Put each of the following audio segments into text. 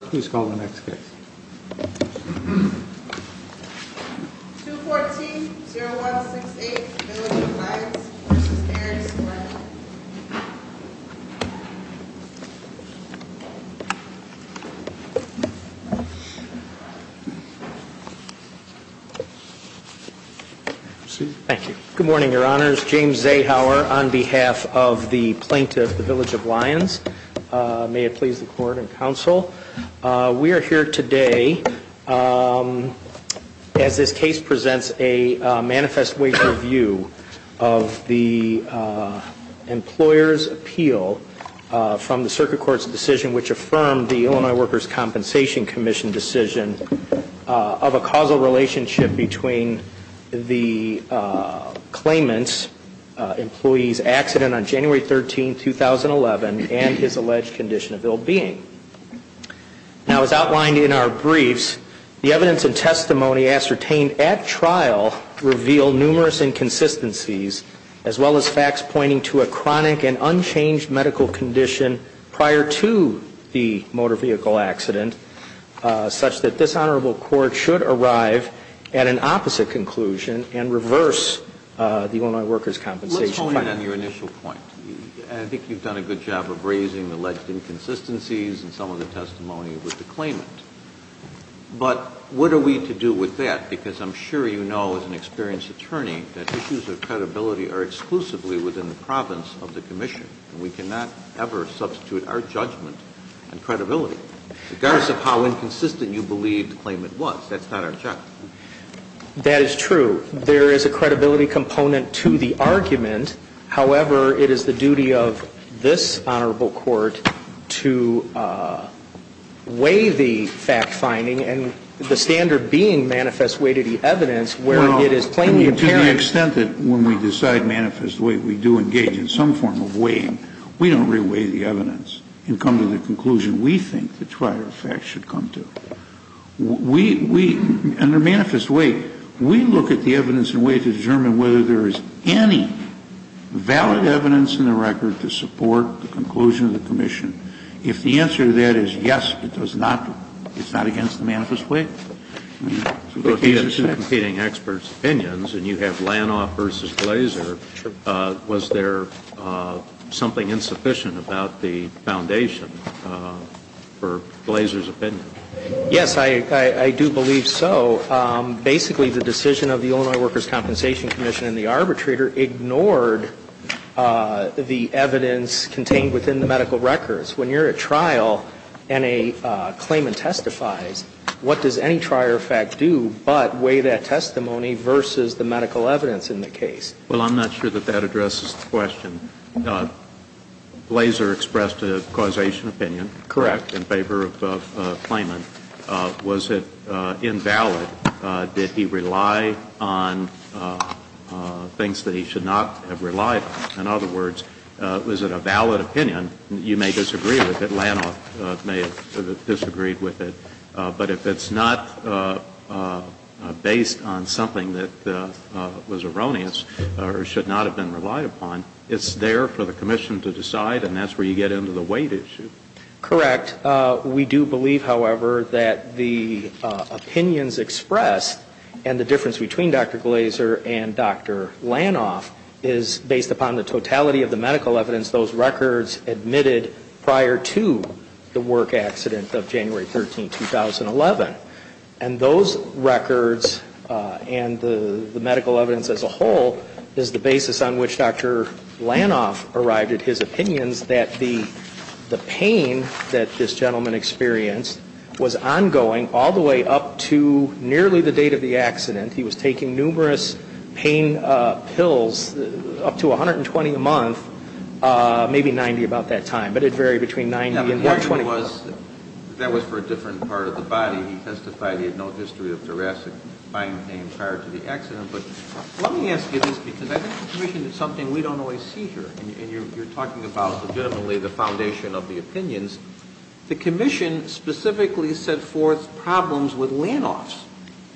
Please call the next case. 214-0168, Village of Lyons v. Harry Square. Proceed. Thank you. Good morning, your honors. James Zahauer on behalf of the plaintiff, the Village of Lyons. May it please the court and counsel. We are here today as this case presents a manifest wage review of the employer's appeal from the circuit court's decision which affirmed the Illinois Workers' Compensation Commission decision of a causal relationship between the claimant's employee's accident on January 13, 2011 and his alleged condition of ill-being. Now as outlined in our briefs, the evidence and testimony ascertained at trial reveal numerous inconsistencies as well as facts pointing to a chronic and unchanged medical condition prior to the motor vehicle accident such that this honorable court should arrive at an opposite conclusion and reverse the Illinois Workers' Compensation. Let's hone in on your initial point. I think you've done a good job of raising alleged inconsistencies in some of the testimony with the claimant. But what are we to do with that because I'm sure you know as an experienced attorney that issues of credibility are exclusively within the province of the commission. We cannot ever substitute our judgment and credibility. Regardless of how inconsistent you believe the claimant was, that's not our job. That is true. There is a credibility component to the argument. However, it is the duty of this honorable court to weigh the fact-finding and the standard being manifest way to the evidence where it is plainly apparent. To the extent that when we decide manifest way we do engage in some form of weighing, we don't re-weigh the evidence and come to the conclusion we think the trial facts should come to. Under manifest way, we look at the evidence in a way to determine whether there is any valid evidence in the record to support the conclusion of the commission. If the answer to that is yes, it's not against the manifest way. If you have two competing experts' opinions and you have Lanoff versus Glazer, was there something insufficient about the foundation for Glazer's opinion? Yes, I do believe so. Basically, the decision of the Illinois Workers' Compensation Commission and the arbitrator ignored the evidence contained within the medical records. When you're at trial and a claimant testifies, what does any trial fact do but weigh that testimony versus the medical evidence in the case? Well, I'm not sure that that addresses the question. Glazer expressed a causation opinion. Correct. In favor of the claimant. Was it invalid? Did he rely on things that he should not have relied on? In other words, was it a valid opinion? You may disagree with it. Lanoff may have disagreed with it. But if it's not based on something that was erroneous or should not have been relied upon, it's there for the commission to decide, and that's where you get into the weight issue. Correct. We do believe, however, that the opinions expressed and the difference between Dr. Glazer and Dr. Lanoff is based upon the totality of the medical evidence those records admitted prior to the work accident of January 13, 2011. And those records and the medical evidence as a whole is the basis on which Dr. Lanoff arrived at his opinions that the pain that this gentleman experienced was ongoing all the way up to nearly the date of the accident. He was taking numerous pain pills, up to 120 a month, maybe 90 about that time. But it varied between 90 and 120. The point was that was for a different part of the body. He testified he had no history of thoracic spine pain prior to the accident. But let me ask you this, because I think the commission did something we don't always see here, and you're talking about legitimately the foundation of the opinions. The commission specifically set forth problems with Lanoff's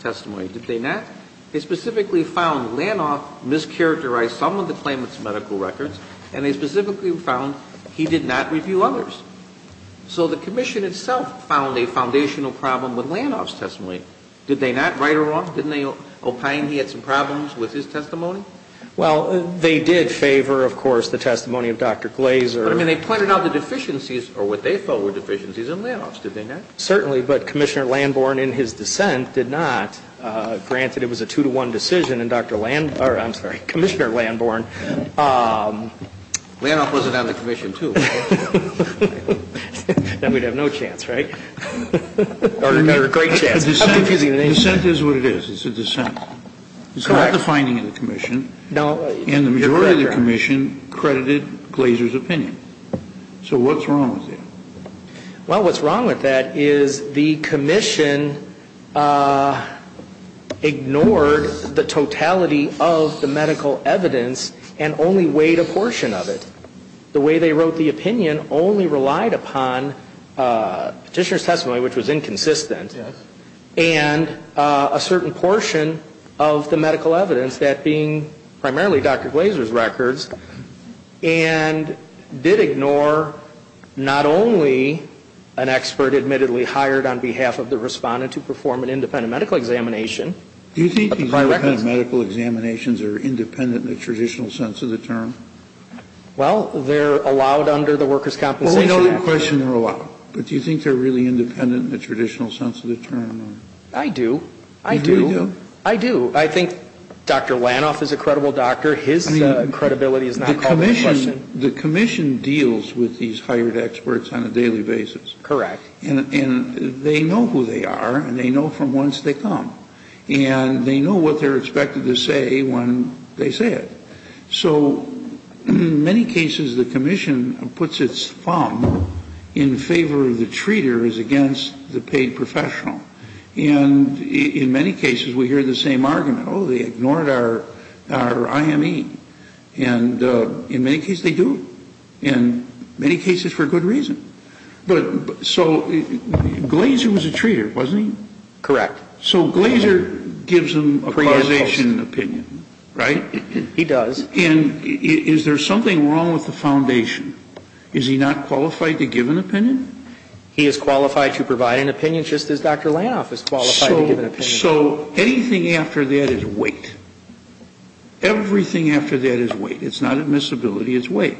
testimony. Did they not? They specifically found Lanoff mischaracterized some of the claimant's medical records, and they specifically found he did not review others. So the commission itself found a foundational problem with Lanoff's testimony. Did they not? Right or wrong? Didn't they opine he had some problems with his testimony? Well, they did favor, of course, the testimony of Dr. Glazer. But, I mean, they pointed out the deficiencies or what they felt were deficiencies in Lanoff's. Did they not? Certainly, but Commissioner Landborn in his dissent did not. Granted, it was a two-to-one decision, and Dr. Land or, I'm sorry, Commissioner Landborn Lanoff wasn't on the commission, too. Then we'd have no chance, right? Or a great chance. Dissent is what it is. It's a dissent. It's not the finding of the commission. And the majority of the commission credited Glazer's opinion. So what's wrong with that? Well, what's wrong with that is the commission ignored the totality of the medical evidence and only weighed a portion of it. The way they wrote the opinion only relied upon Petitioner's testimony, which was inconsistent, and a certain portion of the medical evidence, that being primarily Dr. Glazer's records, and did ignore not only an expert admittedly hired on behalf of the Respondent to perform an independent medical examination. Do you think independent medical examinations are independent in the traditional sense of the term? Well, they're allowed under the Workers' Compensation Act. Well, we know the question they're allowed. But do you think they're really independent in the traditional sense of the term? I do. I do. You really do? I do. I think Dr. Lanoff is a credible doctor. His credibility is not called into question. I mean, the commission deals with these hired experts on a daily basis. Correct. And they know who they are, and they know from whence they come. And they know what they're expected to say when they say it. So in many cases, the commission puts its thumb in favor of the treaters against the paid professional. And in many cases, we hear the same argument. Oh, they ignored our IME. And in many cases, they do, in many cases for good reason. But so Glazer was a treater, wasn't he? Correct. So Glazer gives them a causation opinion, right? He does. And is there something wrong with the foundation? Is he not qualified to give an opinion? He is qualified to provide an opinion, just as Dr. Lanoff is qualified to give an opinion. So anything after that is weight. Everything after that is weight. It's not admissibility. It's weight.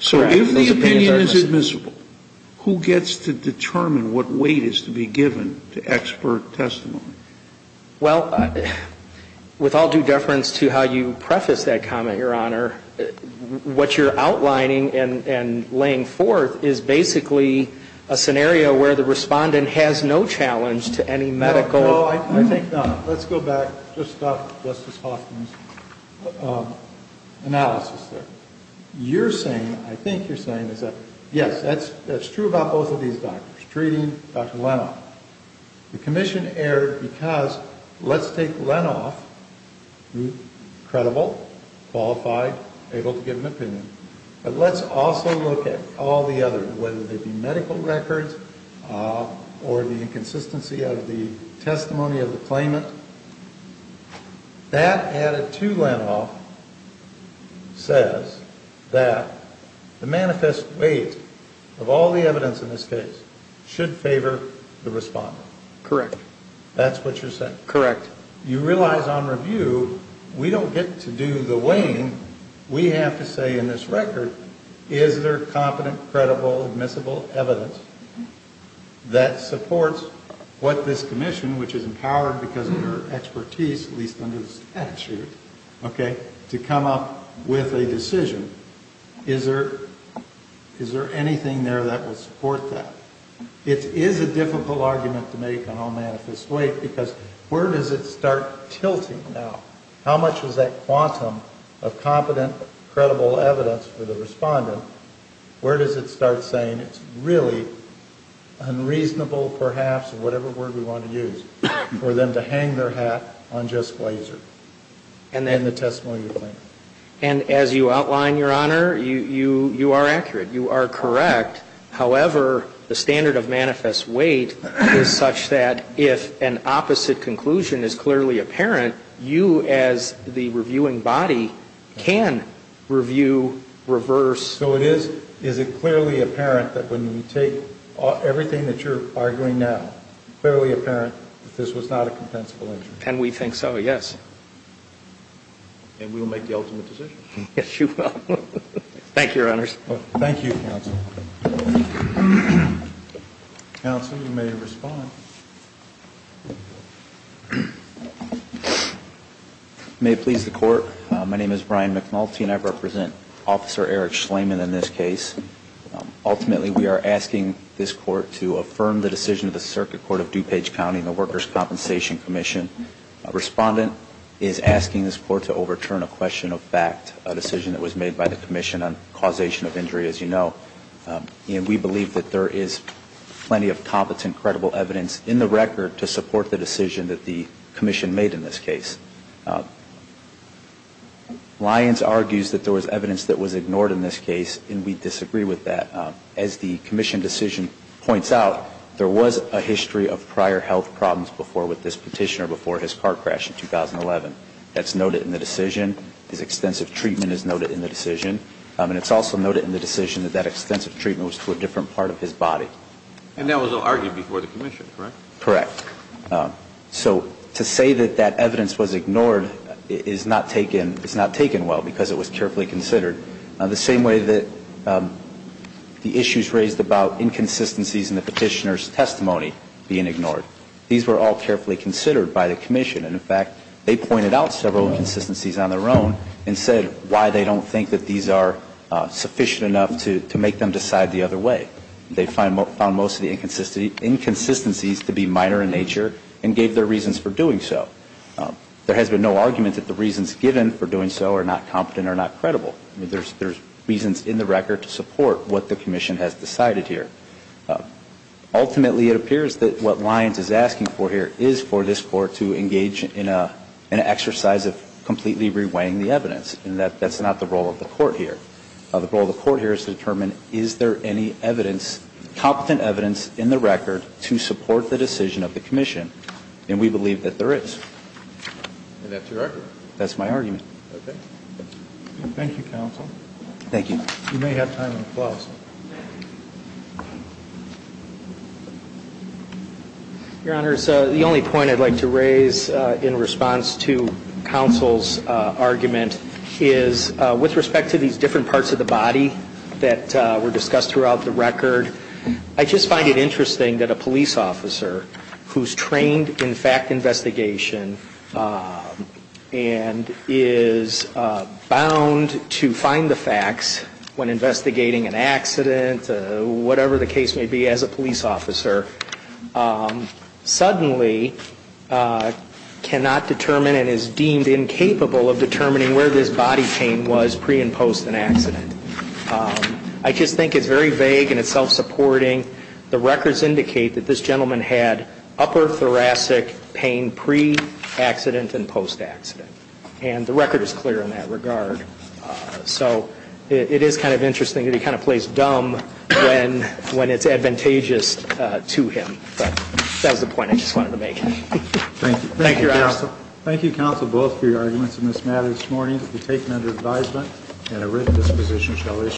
So if the opinion is admissible, who gets to determine what weight is to be given to expert testimony? Well, with all due deference to how you prefaced that comment, Your Honor, what you're outlining and laying forth is basically a scenario where the respondent has no challenge to any medical. No, I think not. Let's go back to Justice Hoffman's analysis there. You're saying, I think you're saying, yes, that's true about both of these doctors, treating Dr. Lanoff. The commission erred because let's take Lanoff, credible, qualified, able to give an opinion. But let's also look at all the others, whether they be medical records or the inconsistency of the testimony of the claimant. That added to Lanoff says that the manifest weight of all the evidence in this case should favor the respondent. Correct. That's what you're saying. Correct. But you realize on review, we don't get to do the weighing. We have to say in this record, is there competent, credible, admissible evidence that supports what this commission, which is empowered because of their expertise, at least under the statute, okay, to come up with a decision? Is there anything there that will support that? It is a difficult argument to make on all manifest weight because where does it start tilting now? How much is that quantum of competent, credible evidence for the respondent? Where does it start saying it's really unreasonable, perhaps, whatever word we want to use, for them to hang their hat on just Glazer and the testimony of the claimant? And as you outline, Your Honor, you are accurate. You are correct. However, the standard of manifest weight is such that if an opposite conclusion is clearly apparent, you as the reviewing body can review reverse. So is it clearly apparent that when you take everything that you're arguing now, it's clearly apparent that this was not a compensable injury? And we think so, yes. And we will make the ultimate decision. Yes, you will. Thank you, Your Honors. Thank you, counsel. Counsel, you may respond. May it please the court, my name is Brian McNulty and I represent Officer Eric Schleiman in this case. Ultimately, we are asking this court to affirm the decision of the Circuit Court of DuPage County and the Workers' Compensation Commission. A respondent is asking this court to overturn a question of fact, a decision that was made by the commission on causation of injury, as you know. And we believe that there is plenty of competent, credible evidence in the record to support the decision that the commission made in this case. Lyons argues that there was evidence that was ignored in this case and we disagree with that. As the commission decision points out, there was a history of prior health problems before with this petitioner before his car crash in 2011. That's noted in the decision. His extensive treatment is noted in the decision. And it's also noted in the decision that that extensive treatment was to a different part of his body. And that was argued before the commission, correct? Correct. So to say that that evidence was ignored is not taken well because it was carefully considered. The same way that the issues raised about inconsistencies in the petitioner's testimony being ignored. These were all carefully considered by the commission. And, in fact, they pointed out several inconsistencies on their own and said why they don't think that these are sufficient enough to make them decide the other way. They found most of the inconsistencies to be minor in nature and gave their reasons for doing so. There has been no argument that the reasons given for doing so are not competent or not credible. I mean, there's reasons in the record to support what the commission has decided here. Ultimately, it appears that what Lyons is asking for here is for this Court to determine is there any evidence, competent evidence, in the record to support the decision of the commission. And we believe that there is. And that's your argument? That's my argument. Okay. Thank you, counsel. Thank you. You may have time for applause. Your Honor, the only point I'd like to raise in response to counsel's argument is with respect to these different parts of the body that were discussed throughout the record, I just find it interesting that a police officer who's trained in fact investigation and is bound to find the facts when investigating an accident, whatever the case may be as a police officer, suddenly cannot determine and is deemed incapable of determining where this body pain was pre and post an accident. I just think it's very vague and it's self-supporting. The records indicate that this gentleman had upper thoracic pain pre-accident and post-accident. And the record is clear in that regard. So it is kind of interesting that he kind of plays dumb when it's advantageous to him. But that was the point I just wanted to make. Thank you. Thank you, counsel. Thank you, counsel, both for your arguments in this matter this morning. We take them under advisement and a written disposition shall issue.